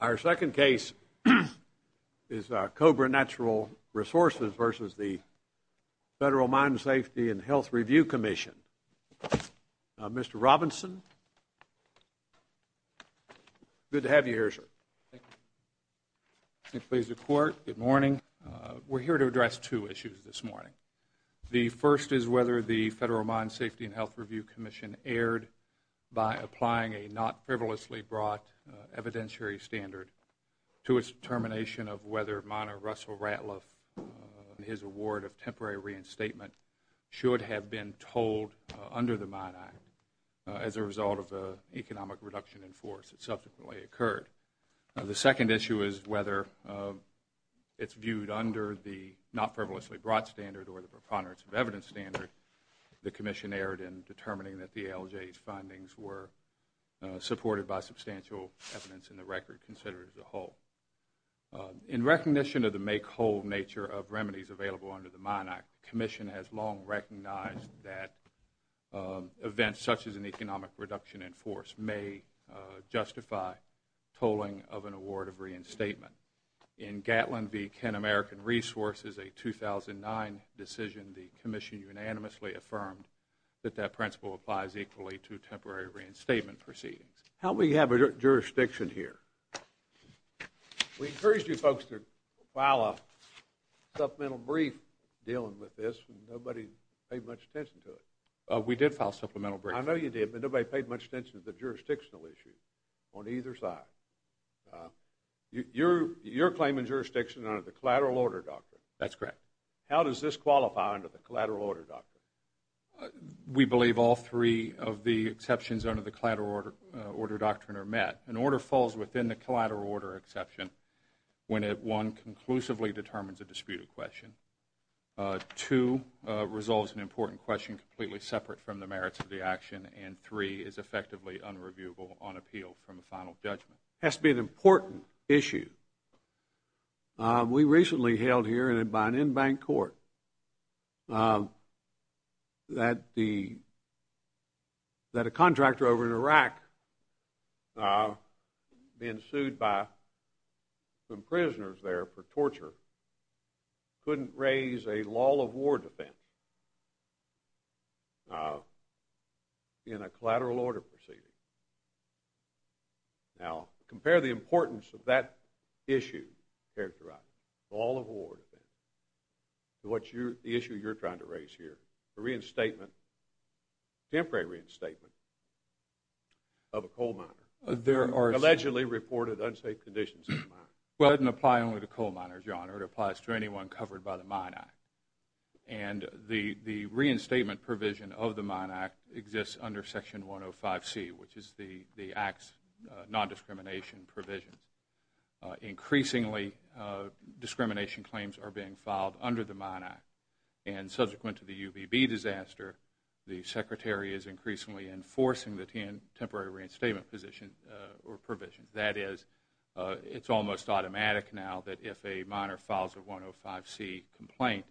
Our second case is Cobra Natural Resources v. Federal Mine Safety & Health Review Commission. Mr. Robinson, good to have you here, sir. Thank you. Good morning. We're here to address two issues this morning. The first is whether the Federal Mine Safety & Health Review Commission erred by applying a not frivolously brought evidentiary standard to its determination of whether miner Russell Ratliff and his award of temporary reinstatement should have been told under the Mine Act as a result of an economic reduction in force that subsequently occurred. The second issue is whether it's viewed under the not frivolously brought standard or the preponderance of evidence standard the Commission erred in determining that the ALJ's findings were supported by substantial evidence in the record considered as a whole. In recognition of the make-whole nature of remedies available under the Mine Act, the Commission has long recognized that events such as an economic reduction in force may justify tolling of an award of reinstatement. In Gatlin v. Ken American Resources, a 2009 decision, the Commission unanimously affirmed that that principle applies equally to temporary reinstatement proceedings. How many have a jurisdiction here? We encouraged you folks to file a supplemental brief dealing with this. Nobody paid much attention to it. We did file a supplemental brief. I know you did, but nobody paid much attention to the jurisdictional issues on either side. Your claim in jurisdiction under the Collateral Order Doctrine. That's correct. How does this qualify under the Collateral Order Doctrine? We believe all three of the exceptions under the Collateral Order Doctrine are met. An order falls within the Collateral Order exception when it, one, conclusively determines a disputed question, two, resolves an important question completely separate from the merits of the action, and three, is effectively unreviewable on appeal from a final judgment. It has to be an important issue. We recently held here by an in-bank court that a contractor over in Iraq, being sued by some prisoners there for torture, couldn't raise a law of war defense in a collateral order proceeding. Now, compare the importance of that issue characterized, law of war defense, to the issue you're trying to raise here, a reinstatement, temporary reinstatement of a coal miner, allegedly reported unsafe conditions in the mine. Well, it doesn't apply only to coal miners, Your Honor. It applies to anyone covered by the Mine Act. And the reinstatement provision of the Mine Act exists under Section 105C, which is the Act's nondiscrimination provisions. Increasingly, discrimination claims are being filed under the Mine Act, and subsequent to the UBB disaster, the Secretary is increasingly enforcing the temporary reinstatement provision. That is, it's almost automatic now that if a miner files a 105C complaint,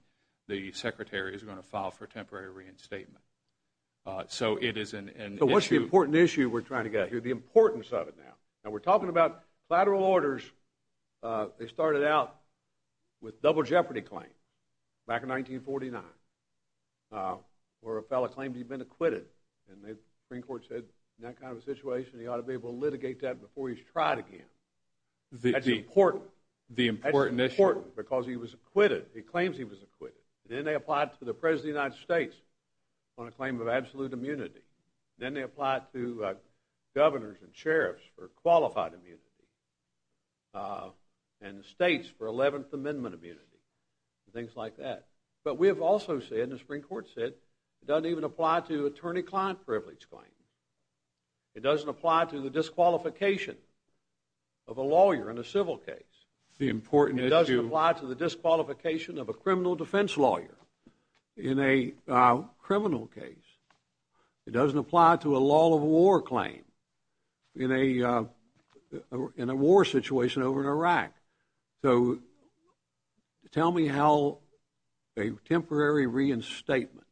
the Secretary is going to file for temporary reinstatement. So it is an issue. So what's the important issue we're trying to get here? The importance of it now. Now, we're talking about collateral orders. They started out with double jeopardy claims back in 1949, where a fellow claimed he'd been acquitted, and the Supreme Court said, in that kind of a situation, he ought to be able to litigate that before he's tried again. That's important. The important issue. That's important because he was acquitted. He claims he was acquitted. Then they applied to the President of the United States on a claim of absolute immunity. Then they applied to governors and sheriffs for qualified immunity and the states for Eleventh Amendment immunity and things like that. But we have also said, and the Supreme Court said, it doesn't even apply to attorney-client privilege claims. It doesn't apply to the disqualification of a lawyer in a civil case. The important issue. It doesn't apply to the disqualification of a criminal defense lawyer in a criminal case. It doesn't apply to a law of war claim in a war situation over in Iraq. So tell me how a temporary reinstatement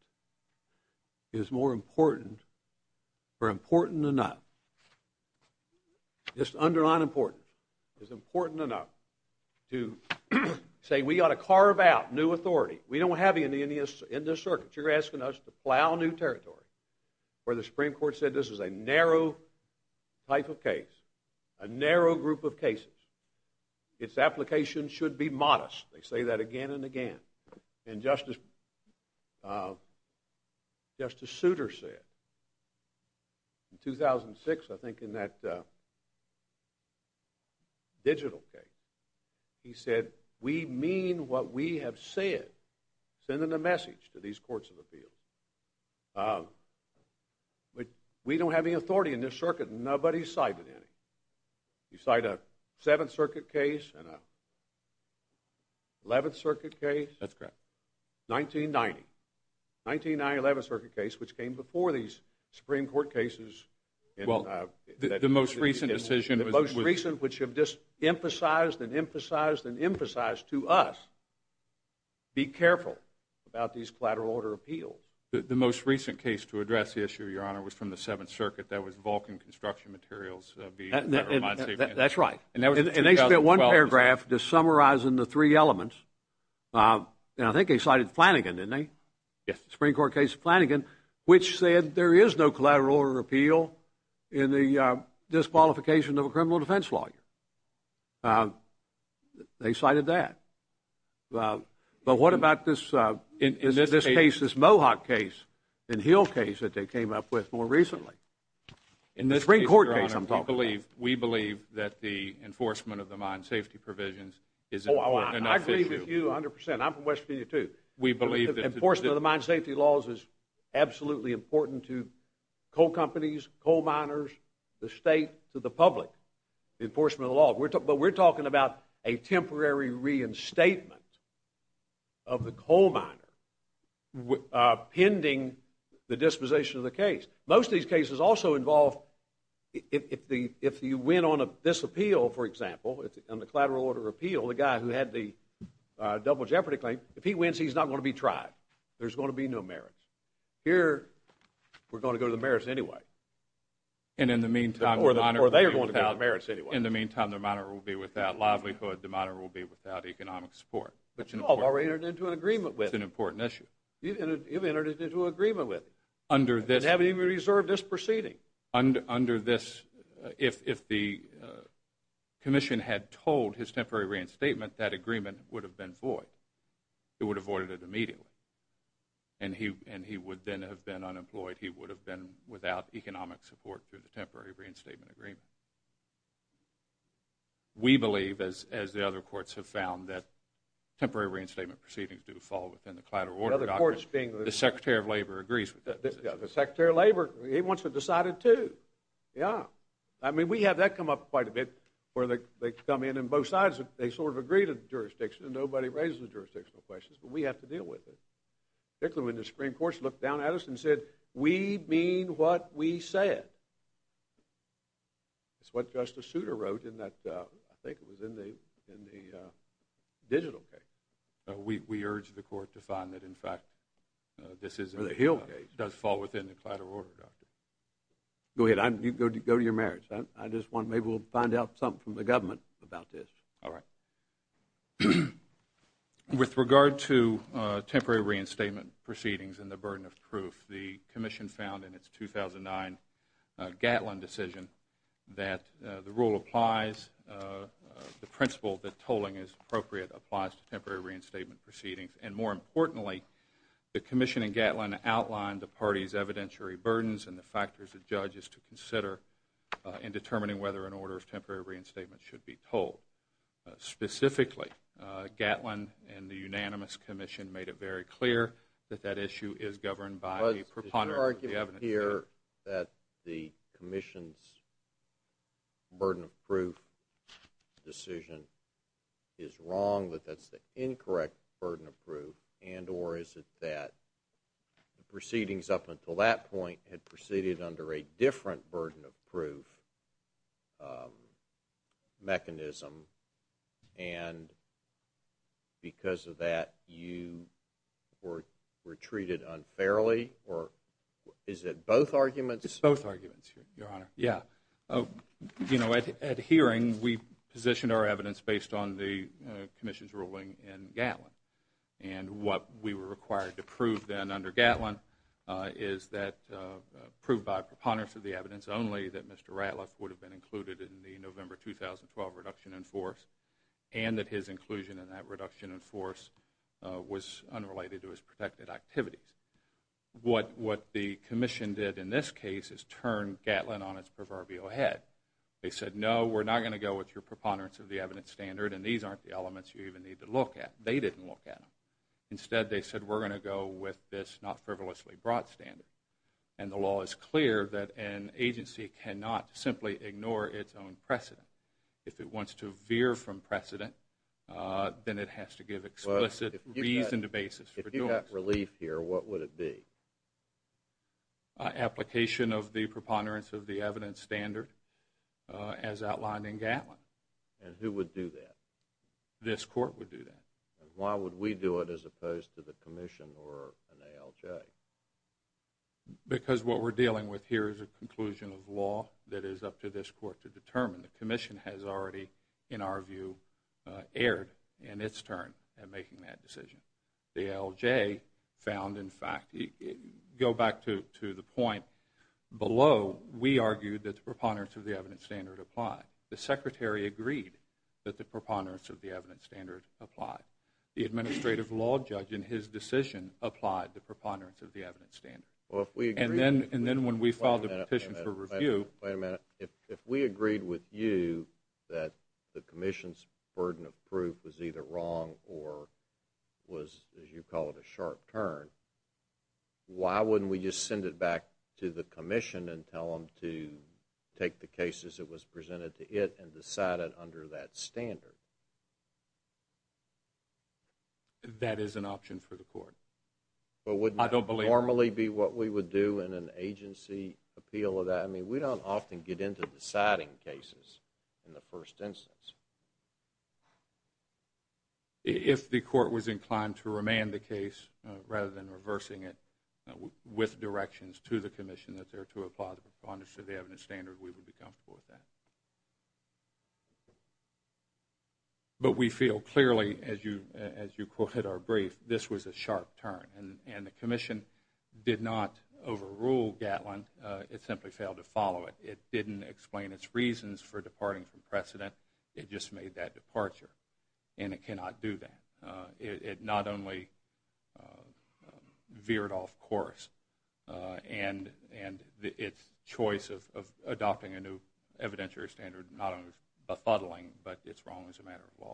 is more important or important enough, just underline important, is important enough to say we ought to carve out new authority. We don't have any in this circuit. You're asking us to plow new territory where the Supreme Court said this is a narrow type of case, a narrow group of cases. Its application should be modest. They say that again and again. And Justice Souter said in 2006, I think in that digital case, he said, we mean what we have said, sending a message to these courts of appeals. But we don't have any authority in this circuit. Nobody's cited any. You cite a Seventh Circuit case and an Eleventh Circuit case. That's correct. 1990. 1990 Eleventh Circuit case, which came before these Supreme Court cases. Well, the most recent decision was. The most recent, which have just emphasized and emphasized and emphasized to us, be careful about these collateral order appeals. The most recent case to address the issue, Your Honor, was from the Seventh Circuit. That was Vulcan Construction Materials. That's right. And they spent one paragraph just summarizing the three elements. And I think they cited Flanagan, didn't they? Yes. The Supreme Court case of Flanagan, which said there is no collateral order appeal in the disqualification of a criminal defense lawyer. They cited that. But what about this case, this Mohawk case and Hill case that they came up with more recently? The Supreme Court case I'm talking about. We believe that the enforcement of the mine safety provisions is an important enough issue. I agree with you 100%. I'm from West Virginia, too. We believe that. Enforcement of the mine safety laws is absolutely important to coal companies, coal miners, the state, to the public. Enforcement of the law. But we're talking about a temporary reinstatement of the coal miner pending the disposition of the case. Most of these cases also involve, if you win on this appeal, for example, on the collateral order appeal, the guy who had the double jeopardy claim, if he wins, he's not going to be tried. There's going to be no merits. Here, we're going to go to the merits anyway. Or they're going to go to the merits anyway. In the meantime, the miner will be without livelihood. The miner will be without economic support. Which you've already entered into an agreement with. It's an important issue. You've entered into an agreement with. Under this. And haven't even reserved this proceeding. Under this, if the commission had told his temporary reinstatement, that agreement would have been void. It would have voided it immediately. And he would then have been unemployed. He would have been without economic support through the temporary reinstatement agreement. We believe, as the other courts have found, that temporary reinstatement proceedings do fall within the collateral order doctrine. The other courts being? The Secretary of Labor agrees with that decision. The Secretary of Labor, he wants it decided, too. Yeah. I mean, we have that come up quite a bit, where they come in on both sides. They sort of agree to the jurisdiction, and nobody raises the jurisdictional questions, but we have to deal with it. Particularly when the Supreme Court's looked down at us and said, we mean what we said. It's what Justice Souter wrote in that, I think it was in the digital case. We urge the court to find that, in fact, this is. Or the Hill case. Does fall within the collateral order doctrine. Go ahead. Go to your merits. I just want, maybe we'll find out something from the government about this. All right. With regard to temporary reinstatement proceedings and the burden of proof, the commission found in its 2009 Gatlin decision that the rule applies, the principle that tolling is appropriate applies to temporary reinstatement proceedings. And more importantly, the commission in Gatlin outlined the party's evidentiary burdens and the factors the judge is to consider in determining whether an order of temporary reinstatement should be tolled. Specifically, Gatlin and the unanimous commission made it very clear that that issue is governed by the preponderance of the evidentiary. Did you argue here that the commission's burden of proof decision is wrong, that that's the incorrect burden of proof, and or is it that the proceedings up until that point had proceeded under a different burden of proof mechanism and because of that you were treated unfairly? Or is it both arguments? It's both arguments, Your Honor. Yeah. You know, at hearing, we positioned our evidence based on the commission's ruling in Gatlin. And what we were required to prove then under Gatlin is that, proved by preponderance of the evidence only, that Mr. Ratliff would have been included in the November 2012 reduction in force and that his inclusion in that reduction in force was unrelated to his protected activities. What the commission did in this case is turn Gatlin on its proverbial head. They said, no, we're not going to go with your preponderance of the evidence standard and these aren't the elements you even need to look at. They didn't look at them. Instead, they said, we're going to go with this not frivolously brought standard. And the law is clear that an agency cannot simply ignore its own precedent. If it wants to veer from precedent, then it has to give explicit reason to basis. If you got relief here, what would it be? Application of the preponderance of the evidence standard as outlined in Gatlin. And who would do that? This court would do that. Why would we do it as opposed to the commission or an ALJ? Because what we're dealing with here is a conclusion of law that is up to this court to determine. The commission has already, in our view, erred in its turn in making that decision. The ALJ found, in fact, go back to the point below, we argued that the preponderance of the evidence standard applied. The secretary agreed that the preponderance of the evidence standard applied. The administrative law judge, in his decision, applied the preponderance of the evidence standard. And then when we filed the petition for review. Wait a minute. If we agreed with you that the commission's burden of proof was either wrong or was, as you call it, a sharp turn, why wouldn't we just send it back to the commission and tell them to take the cases that was presented to it and decide it under that standard? That is an option for the court. But wouldn't that normally be what we would do in an agency appeal of that? I mean, we don't often get into deciding cases in the first instance. If the court was inclined to remand the case rather than reversing it with directions to the commission that there to apply the preponderance of the evidence standard, we would be comfortable with that. But we feel clearly, as you quoted our brief, this was a sharp turn. And the commission did not overrule Gatlin. It simply failed to follow it. It didn't explain its reasons for departing from precedent. It just made that departure. And it cannot do that. It not only veered off course and its choice of adopting a new evidentiary standard, not only bethuddling, but it's wrong as a matter of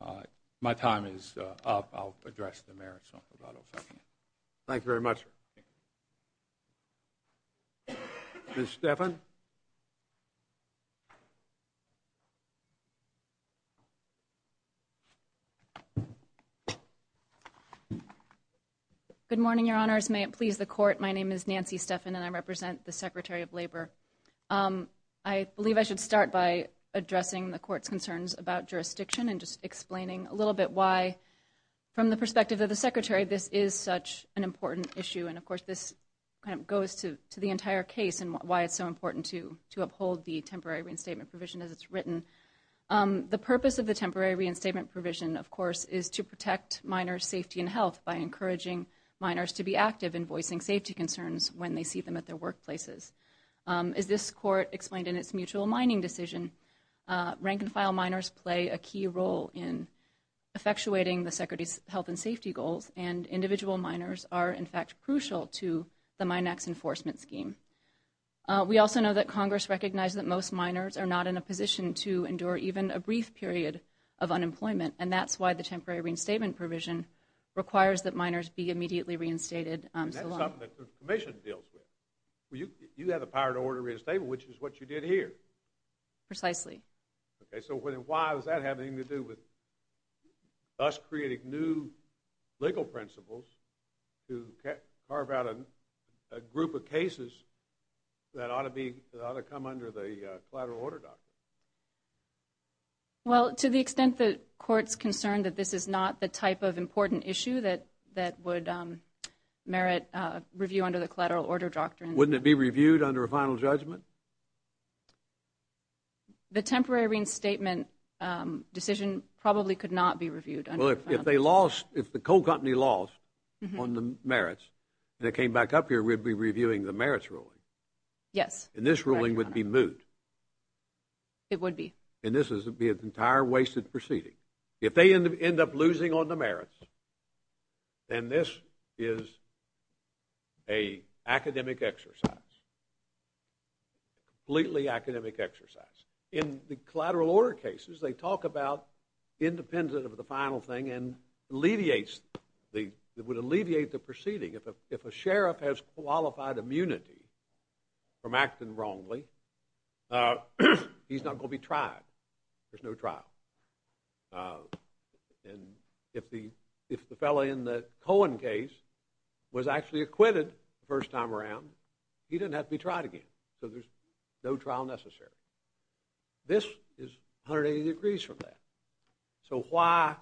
law. My time is up. I'll address the merits. Thank you very much. Thank you. Ms. Stephan? Good morning, Your Honors. May it please the court, my name is Nancy Stephan, and I represent the Secretary of Labor. I believe I should start by addressing the court's concerns about jurisdiction and just explaining a little bit why, from the perspective of the Secretary, this is such an important issue. And, of course, this kind of goes to the entire case and why it's so important to uphold the temporary reinstatement provision as it's written. The purpose of the temporary reinstatement provision, of course, is to protect minors' safety and health by encouraging minors to be active in voicing safety concerns when they see them at their workplaces. As this court explained in its mutual mining decision, rank-and-file minors play a key role in effectuating the Secretary's health and safety goals, and individual minors are, in fact, crucial to the Minax enforcement scheme. We also know that Congress recognizes that most minors are not in a position to endure even a brief period of unemployment, and that's why the temporary reinstatement provision requires that minors be immediately reinstated. And that's something that the Commission deals with. You have the power to order a reinstatement, which is what you did here. Precisely. Okay, so why does that have anything to do with us creating new legal principles to carve out a group of cases that ought to come under the collateral order doctrine? Well, to the extent that court's concerned that this is not the type of important issue that would merit review under the collateral order doctrine. Wouldn't it be reviewed under a final judgment? The temporary reinstatement decision probably could not be reviewed. Well, if the coal company lost on the merits and it came back up here, we'd be reviewing the merits ruling. Yes. And this ruling would be moot. It would be. And this would be an entire wasted proceeding. If they end up losing on the merits, then this is an academic exercise, completely academic exercise. In the collateral order cases, they talk about independent of the final thing and it would alleviate the proceeding. If a sheriff has qualified immunity from acting wrongly, he's not going to be tried. There's no trial. And if the fellow in the Cohen case was actually acquitted the first time around, he doesn't have to be tried again, so there's no trial necessary. This is 180 degrees from that. So why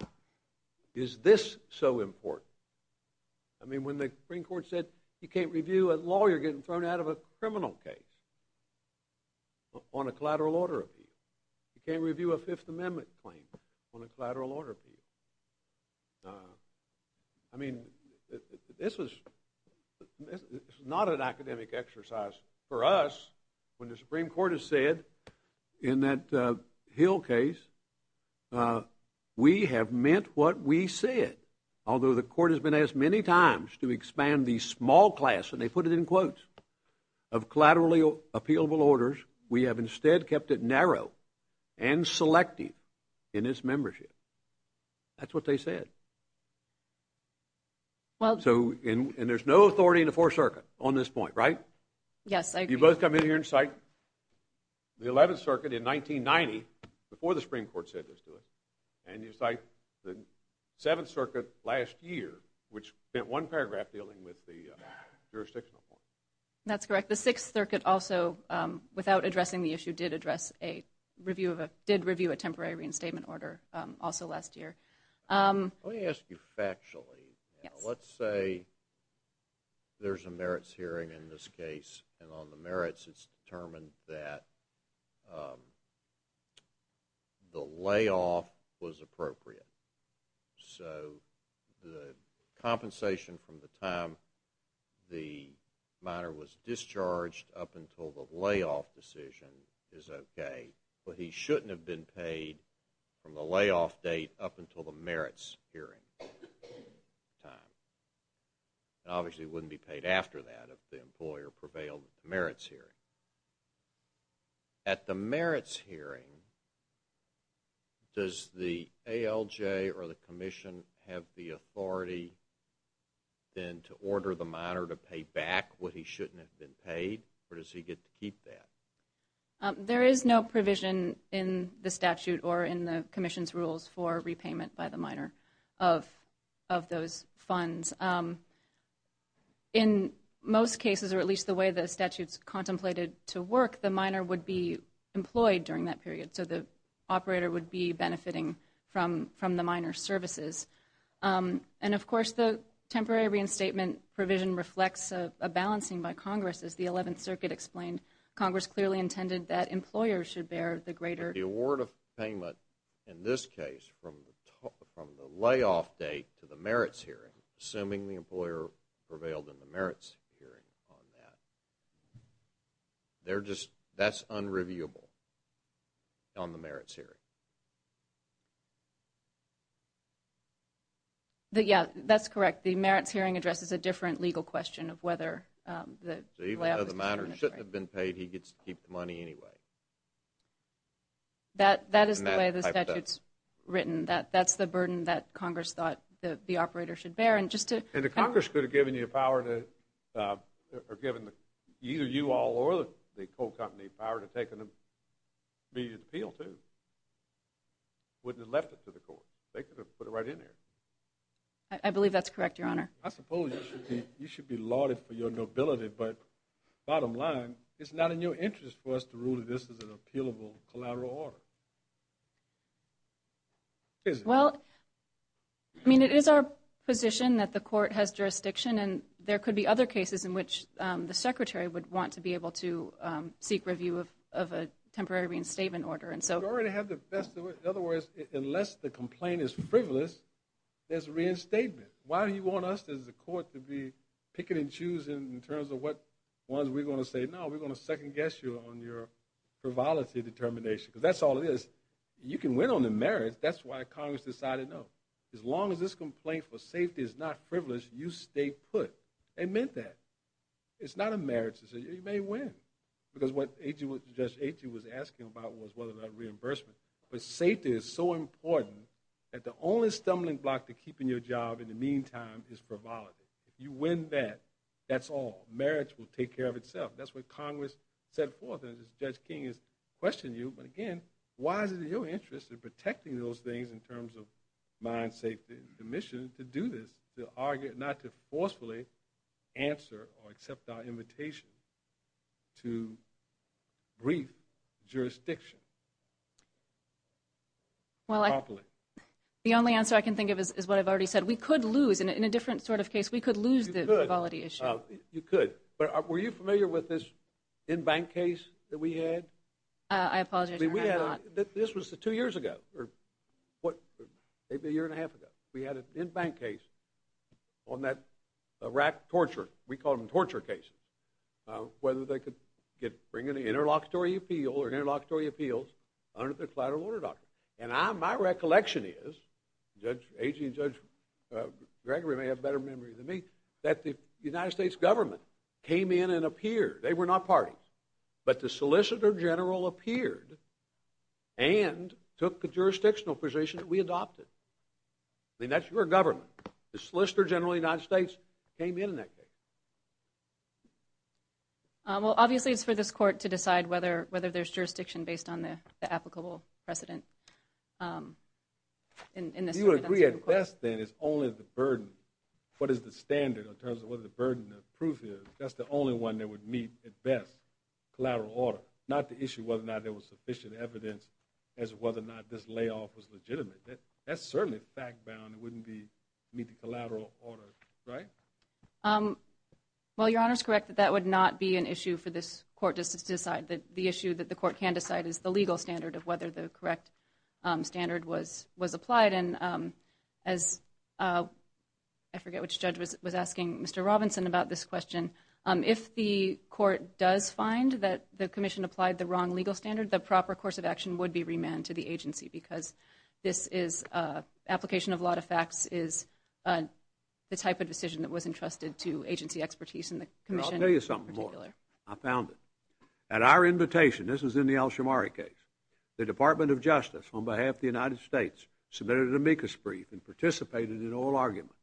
is this so important? I mean, when the Supreme Court said you can't review a lawyer getting thrown out of a criminal case on a collateral order appeal, you can't review a Fifth Amendment claim on a collateral order appeal. I mean, this was not an academic exercise for us when the Supreme Court has said in that Hill case, we have meant what we said, although the court has been asked many times to expand the small class, and they put it in quotes, of collateral appealable orders, we have instead kept it narrow and selective in its membership. That's what they said. And there's no authority in the Fourth Circuit on this point, right? Yes, I agree. You both come in here and cite the Eleventh Circuit in 1990, before the Supreme Court said this to us, and you cite the Seventh Circuit last year, which spent one paragraph dealing with the jurisdictional point. That's correct. The Sixth Circuit also, without addressing the issue, did review a temporary reinstatement order also last year. Let me ask you factually. Yes. Let's say there's a merits hearing in this case, and on the merits it's determined that the layoff was appropriate. So the compensation from the time the minor was discharged up until the layoff decision is okay, but he shouldn't have been paid from the layoff date up until the merits hearing time. And obviously he wouldn't be paid after that if the employer prevailed at the merits hearing. At the merits hearing, does the ALJ or the Commission have the authority then to order the minor to pay back what he shouldn't have been paid, or does he get to keep that? There is no provision in the statute or in the Commission's rules for repayment by the minor of those funds. In most cases, or at least the way the statute's contemplated to work, the minor would be employed during that period, so the operator would be benefiting from the minor's services. And, of course, the temporary reinstatement provision reflects a balancing by Congress. As the Eleventh Circuit explained, Congress clearly intended that employers should bear the greater... The award of payment in this case from the layoff date to the merits hearing, assuming the employer prevailed in the merits hearing on that. That's unreviewable on the merits hearing. Yeah, that's correct. The merits hearing addresses a different legal question of whether the layoff... So even though the minor shouldn't have been paid, he gets to keep the money anyway. That is the way the statute's written. That's the burden that Congress thought the operator should bear. And the Congress could have given you power to... or given either you all or the coal company power to take an immediate appeal, too. Wouldn't have left it to the court. They could have put it right in there. I believe that's correct, Your Honor. I suppose you should be lauded for your nobility, but bottom line, it's not in your interest for us to rule that this is an appealable collateral order. Well, I mean, it is our position that the court has jurisdiction, and there could be other cases in which the secretary would want to be able to seek review of a temporary reinstatement order. In other words, unless the complaint is frivolous, there's reinstatement. Why do you want us as a court to be picking and choosing in terms of what ones we're going to say? I'm not sure on your frivolity determination, because that's all it is. You can win on the merits. That's why Congress decided no. As long as this complaint for safety is not frivolous, you stay put. They meant that. It's not a merits decision. You may win, because what Judge Agy was asking about was whether or not reimbursement. But safety is so important that the only stumbling block to keeping your job in the meantime is frivolity. If you win that, that's all. Merits will take care of itself. That's what Congress set forth, and as Judge King has questioned you, but again, why is it in your interest in protecting those things in terms of mind, safety, and the mission to do this, to argue not to forcefully answer or accept our invitation to brief jurisdiction properly? The only answer I can think of is what I've already said. We could lose. In a different sort of case, we could lose the frivolity issue. You could. But were you familiar with this in-bank case that we had? I apologize, Your Honor, I'm not. This was two years ago or maybe a year and a half ago. We had an in-bank case on that rack torture. We called them torture cases, whether they could bring an interlocutory appeal or interlocutory appeals under the collateral order doctrine. And my recollection is, Judge Agy and Judge Gregory may have better memory than me, that the United States government came in and appeared. They were not parties. But the Solicitor General appeared and took the jurisdictional position that we adopted. I mean, that's your government. The Solicitor General of the United States came in in that case. Well, obviously, it's for this Court to decide whether there's jurisdiction based on the applicable precedent. Do you agree, at best, then, it's only the burden? What is the standard in terms of what the burden of proof is? That's the only one that would meet, at best, collateral order, not the issue whether or not there was sufficient evidence as to whether or not this layoff was legitimate. That's certainly fact-bound. It wouldn't meet the collateral order, right? Well, Your Honor's correct that that would not be an issue for this Court to decide. The issue that the Court can decide is the legal standard of whether the correct standard was applied. And as I forget which judge was asking Mr. Robinson about this question, if the Court does find that the Commission applied the wrong legal standard, the proper course of action would be remanded to the agency because this is application of a lot of facts is the type of decision that was entrusted to agency expertise. I'll tell you something more. I found it. At our invitation, this was in the Alshamari case, the Department of Justice, on behalf of the United States, submitted an amicus brief and participated in an oral argument.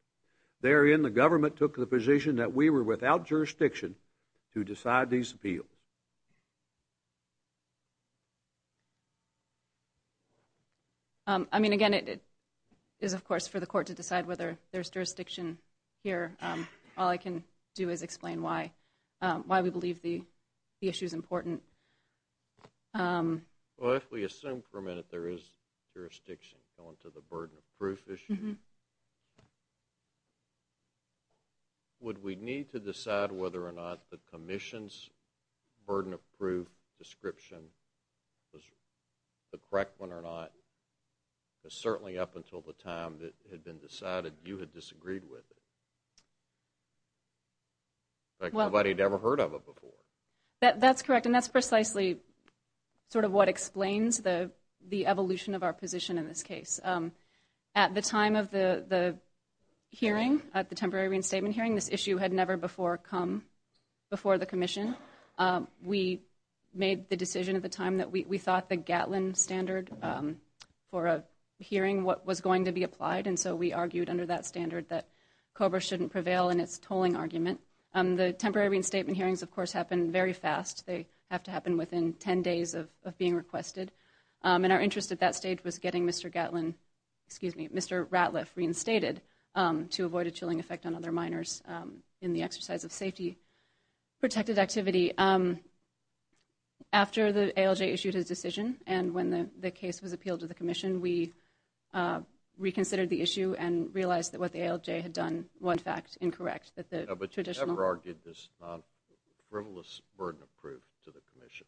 Therein, the government took the position that we were without jurisdiction to decide these appeals. I mean, again, it is, of course, for the Court to decide whether there's jurisdiction here. All I can do is explain why we believe the issue is important. Well, if we assume for a minute there is jurisdiction going to the burden of proof issue, would we need to decide whether or not the Commission's burden of proof description was the correct one or not? Because certainly up until the time it had been decided, you had disagreed with it. Like nobody had ever heard of it before. That's correct, and that's precisely sort of what explains the evolution of our position in this case. At the time of the hearing, at the temporary reinstatement hearing, this issue had never before come before the Commission. We made the decision at the time that we thought the Gatlin standard for a hearing was going to be applied, and so we argued under that standard that COBRA shouldn't prevail in its tolling argument. The temporary reinstatement hearings, of course, happen very fast. They have to happen within 10 days of being requested, and our interest at that stage was getting Mr. Ratliff reinstated to avoid a chilling effect on other minors in the exercise of safety-protected activity. After the ALJ issued his decision and when the case was appealed to the Commission, we reconsidered the issue and realized that what the ALJ had done was, in fact, incorrect. But you never argued this non-frivolous burden of proof to the Commission?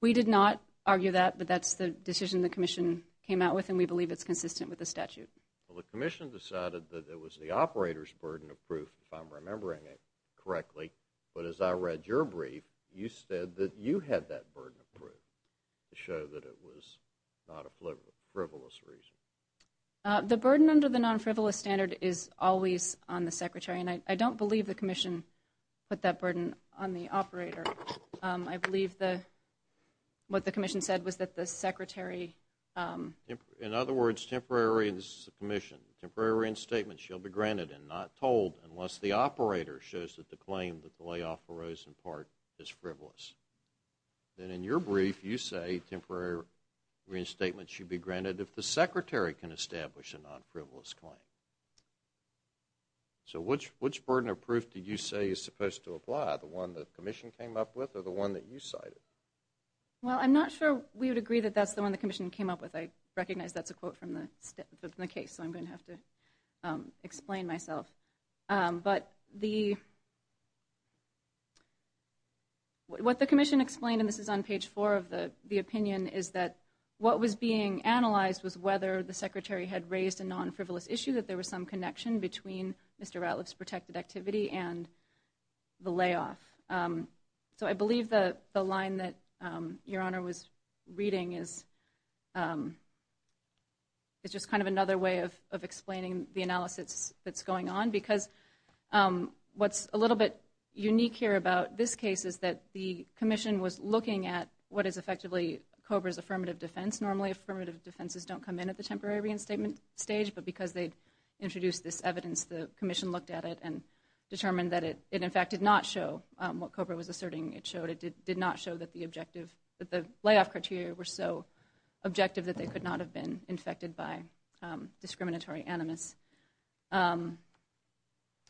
We did not argue that, but that's the decision the Commission came out with, and we believe it's consistent with the statute. Well, the Commission decided that it was the operator's burden of proof, if I'm remembering it correctly, but as I read your brief, you said that you had that burden of proof to show that it was not a frivolous reason. The burden under the non-frivolous standard is always on the Secretary, and I don't believe the Commission put that burden on the operator. I believe what the Commission said was that the Secretary… In other words, temporary commission, temporary reinstatement shall be granted and not told unless the operator shows that the claim that the layoff arose in part is frivolous. Then in your brief, you say temporary reinstatement should be granted if the Secretary can establish a non-frivolous claim. So which burden of proof did you say is supposed to apply, the one the Commission came up with or the one that you cited? Well, I'm not sure we would agree that that's the one the Commission came up with. I recognize that's a quote from the case, so I'm going to have to explain myself. But what the Commission explained, and this is on page four of the opinion, is that what was being analyzed was whether the Secretary had raised a non-frivolous issue, that there was some connection between Mr. Ratliff's protected activity and the layoff. So I believe the line that Your Honor was reading is just kind of another way of explaining the analysis that's going on because what's a little bit unique here about this case is that the Commission was looking at what is effectively COBRA's affirmative defense. Normally, affirmative defenses don't come in at the temporary reinstatement stage, but because they introduced this evidence, the Commission looked at it and determined that it, in fact, did not show what COBRA was asserting it showed. It did not show that the objective, that the layoff criteria were so objective that they could not have been infected by discriminatory animus.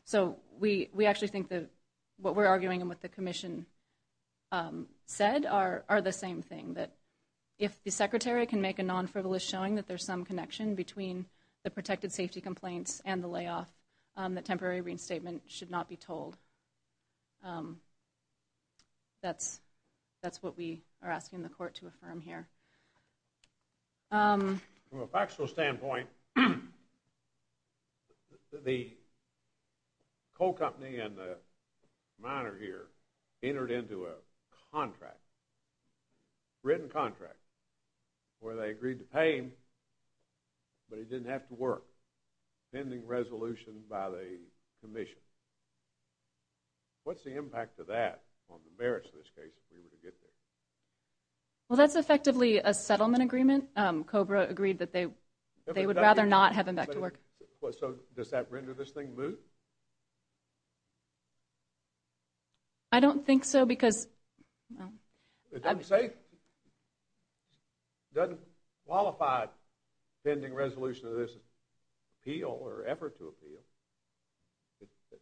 So we actually think that what we're arguing and what the Commission said are the same thing, that if the Secretary can make a non-frivolous showing that there's some connection between the protected safety complaints and the layoff, that temporary reinstatement should not be told. That's what we are asking the Court to affirm here. From a factual standpoint, the coal company and the miner here entered into a contract, written contract, where they agreed to pay him, but he didn't have to work, pending resolution by the Commission. What's the impact of that on the merits of this case if we were to get there? Well, that's effectively a settlement agreement. COBRA agreed that they would rather not have him back to work. So does that render this thing moot? I don't think so, because… It doesn't qualify pending resolution of this appeal or effort to appeal. In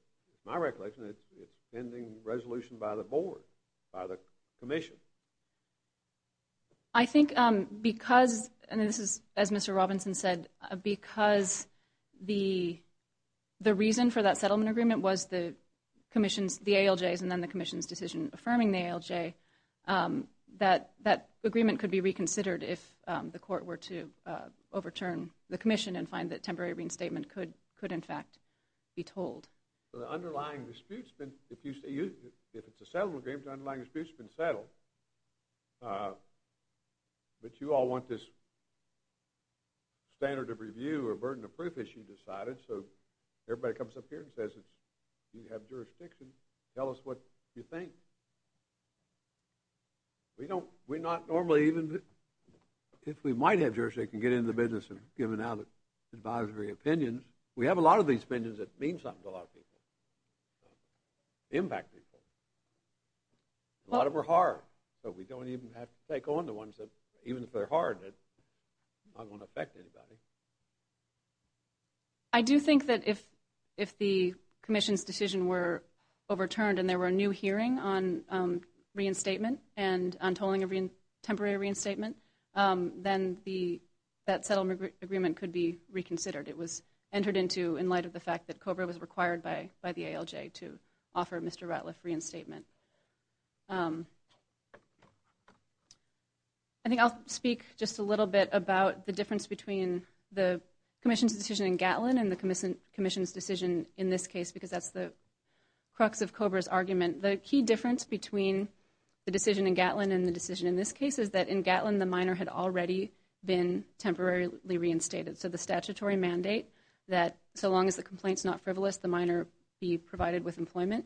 my recollection, it's pending resolution by the Board, by the Commission. I think because, and this is as Mr. Robinson said, because the reason for that settlement agreement was the ALJs and then the Commission's decision affirming the ALJ, that that agreement could be reconsidered if the Court were to overturn the Commission and find that temporary reinstatement could, in fact, be told. The underlying dispute, if it's a settlement agreement, the underlying dispute's been settled, but you all want this standard of review or burden of proof issue decided, so everybody comes up here and says, you have jurisdiction, tell us what you think. We don't, we're not normally even, if we might have jurisdiction, get in the business of giving out advisory opinions. We have a lot of these opinions that mean something to a lot of people, impact people. A lot of them are hard, but we don't even have to take on the ones that, even if they're hard, it's not going to affect anybody. I do think that if the Commission's decision were overturned and there were a new hearing on reinstatement and on tolling of temporary reinstatement, then that settlement agreement could be reconsidered. It was entered into in light of the fact that COBRA was required by the ALJ to offer Mr. Ratliff reinstatement. I think I'll speak just a little bit about the difference between the Commission's decision in Gatlin and the Commission's decision in this case, because that's the crux of COBRA's argument. The key difference between the decision in Gatlin and the decision in this case is that in Gatlin, the minor had already been temporarily reinstated, so the statutory mandate that so long as the complaint's not frivolous, the minor be provided with employment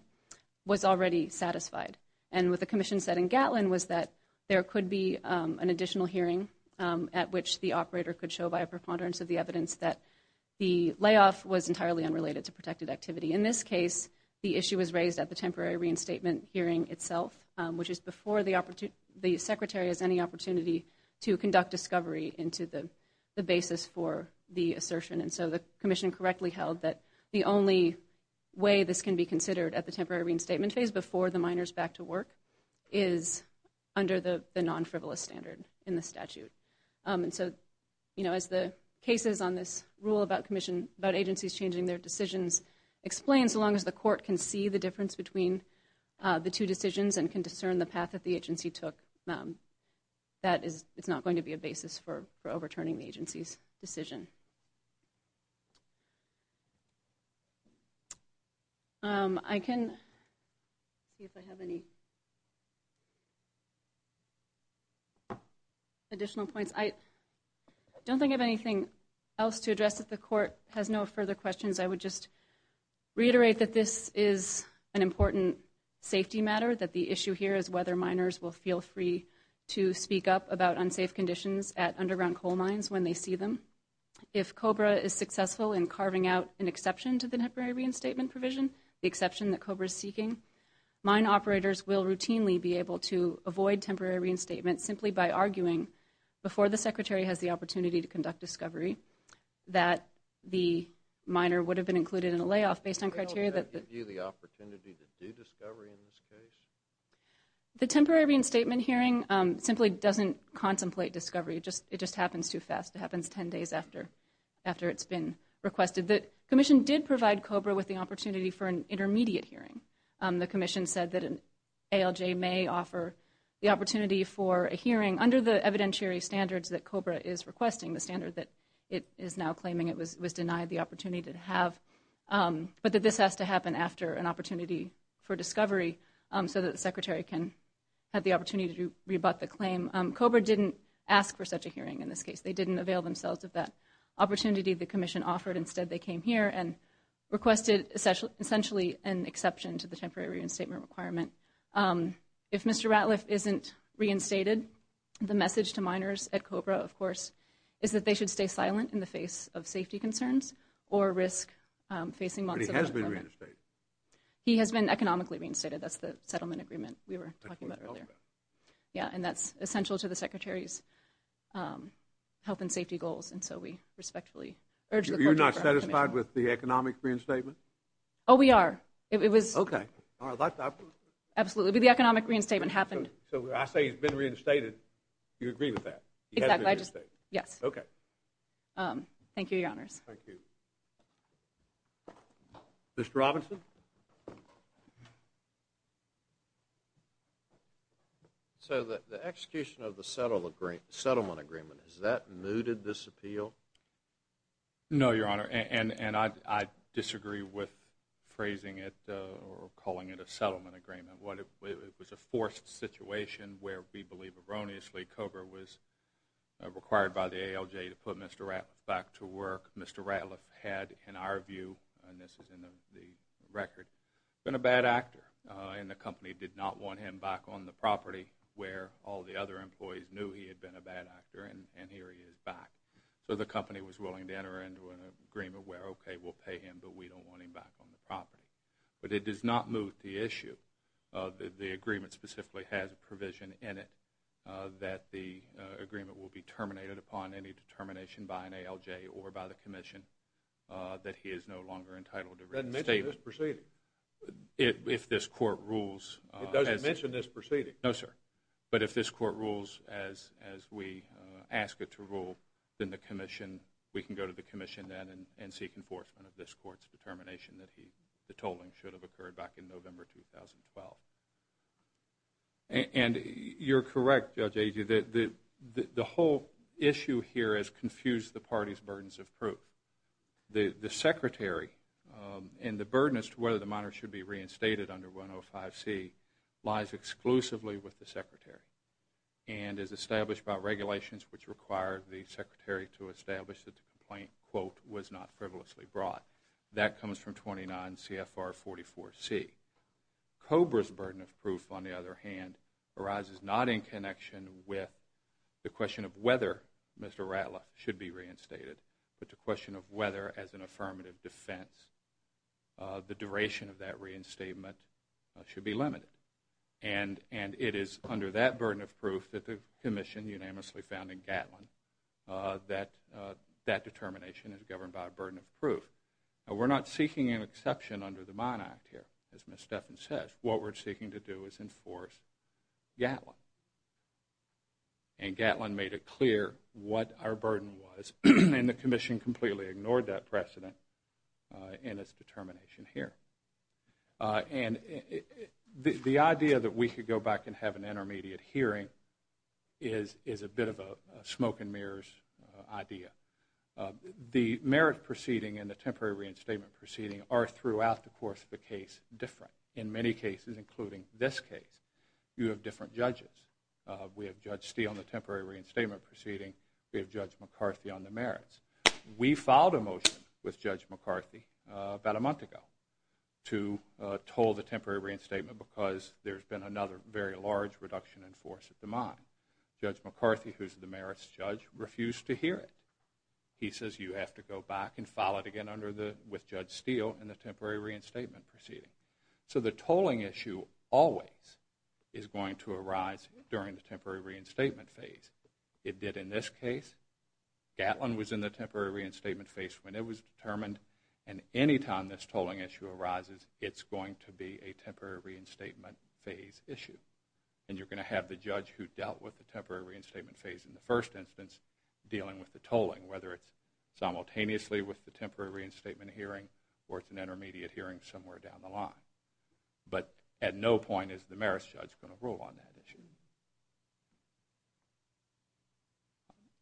was already satisfied. And what the Commission said in Gatlin was that there could be an additional hearing at which the operator could show by a preponderance of the evidence that the layoff was entirely unrelated to protected activity. In this case, the issue was raised at the temporary reinstatement hearing itself, which is before the Secretary has any opportunity to conduct discovery into the basis for the assertion. And so the Commission correctly held that the only way this can be considered at the temporary reinstatement phase before the minor's back to work is under the non-frivolous standard in the statute. And so as the cases on this rule about agencies changing their decisions explain, so long as the court can see the difference between the two decisions and can discern the path that the agency took, it's not going to be a basis for overturning the agency's decision. I can see if I have any additional points. I don't think I have anything else to address if the court has no further questions. I would just reiterate that this is an important safety matter, that the issue here is whether minors will feel free to speak up about unsafe conditions at underground coal mines when they see them. If COBRA is successful in carving out an exception to the temporary reinstatement provision, the exception that COBRA is seeking, mine operators will routinely be able to avoid temporary reinstatement simply by arguing before the Secretary has the opportunity to conduct discovery that the minor would have been included in a layoff based on criteria that the— The temporary reinstatement hearing simply doesn't contemplate discovery. It just happens too fast. It happens 10 days after it's been requested. The Commission did provide COBRA with the opportunity for an intermediate hearing. The Commission said that an ALJ may offer the opportunity for a hearing under the evidentiary standards that COBRA is requesting, the standard that it is now claiming it was denied the opportunity to have, but that this has to happen after an opportunity for discovery so that the Secretary can have the opportunity to rebut the claim. COBRA didn't ask for such a hearing in this case. They didn't avail themselves of that opportunity the Commission offered. Instead, they came here and requested essentially an exception to the temporary reinstatement requirement. If Mr. Ratliff isn't reinstated, the message to minors at COBRA, of course, is that they should stay silent in the face of safety concerns or risk facing months of— But he has been reinstated. He has been economically reinstated. That's the settlement agreement we were talking about earlier. Yeah, and that's essential to the Secretary's health and safety goals, and so we respectfully urge the COBRA Commission— You're not satisfied with the economic reinstatement? Oh, we are. It was— Okay. Absolutely. The economic reinstatement happened. So I say he's been reinstated. You agree with that? Exactly. He has been reinstated. Yes. Okay. Thank you, Your Honors. Thank you. Mr. Robinson? So the execution of the settlement agreement, has that mooted this appeal? No, Your Honor, and I disagree with phrasing it or calling it a settlement agreement. It was a forced situation where we believe erroneously COBRA was required by the ALJ to put Mr. Ratliff back to work. Mr. Ratliff had, in our view—and this is in the record—been a bad actor, and the company did not want him back on the property where all the other employees knew he had been a bad actor, and here he is back. So the company was willing to enter into an agreement where, okay, we'll pay him, but we don't want him back on the property. But it does not moot the issue. The agreement specifically has a provision in it that the agreement will be terminated upon any determination by an ALJ or by the Commission that he is no longer entitled to reinstate— It doesn't mention this proceeding. If this Court rules— It doesn't mention this proceeding. No, sir. But if this Court rules as we ask it to rule, then the Commission—we can go to the Commission then and seek enforcement of this Court's determination that the tolling should have occurred back in November 2012. And you're correct, Judge Agee, that the whole issue here has confused the Party's burdens of proof. The Secretary and the burden as to whether the miner should be reinstated under 105C lies exclusively with the Secretary and is established by regulations which require the Secretary to establish that the complaint, quote, was not frivolously brought. That comes from 29 CFR 44C. COBRA's burden of proof, on the other hand, arises not in connection with the question of whether Mr. Ratliff should be reinstated but the question of whether, as an affirmative defense, the duration of that reinstatement should be limited. And it is under that burden of proof that the Commission unanimously found in Gatlin that that determination is governed by a burden of proof. Now, we're not seeking an exception under the Mine Act here, as Ms. Stephan says. What we're seeking to do is enforce Gatlin. And Gatlin made it clear what our burden was, and the Commission completely ignored that precedent in its determination here. And the idea that we could go back and have an intermediate hearing is a bit of a smoke-and-mirrors idea. The merit proceeding and the temporary reinstatement proceeding are, throughout the course of the case, different. In many cases, including this case, you have different judges. We have Judge Steele in the temporary reinstatement proceeding. We have Judge McCarthy on the merits. We filed a motion with Judge McCarthy about a month ago to toll the temporary reinstatement because there's been another very large reduction in force at the mine. Judge McCarthy, who's the merits judge, refused to hear it. He says, you have to go back and file it again with Judge Steele in the temporary reinstatement proceeding. So the tolling issue always is going to arise during the temporary reinstatement phase. It did in this case. Gatlin was in the temporary reinstatement phase when it was determined. And any time this tolling issue arises, it's going to be a temporary reinstatement phase issue. And you're going to have the judge who dealt with the temporary reinstatement phase in the first instance dealing with the tolling, whether it's simultaneously with the temporary reinstatement hearing or it's an intermediate hearing somewhere down the line. But at no point is the merits judge going to rule on that issue.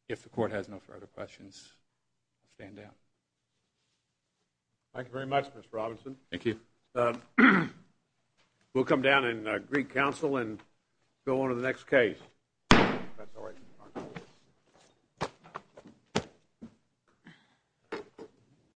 If the Court has no further questions, I'll stand down. Thank you very much, Mr. Robinson. Thank you. We'll come down in Greek Council and go on to the next case. That's all right.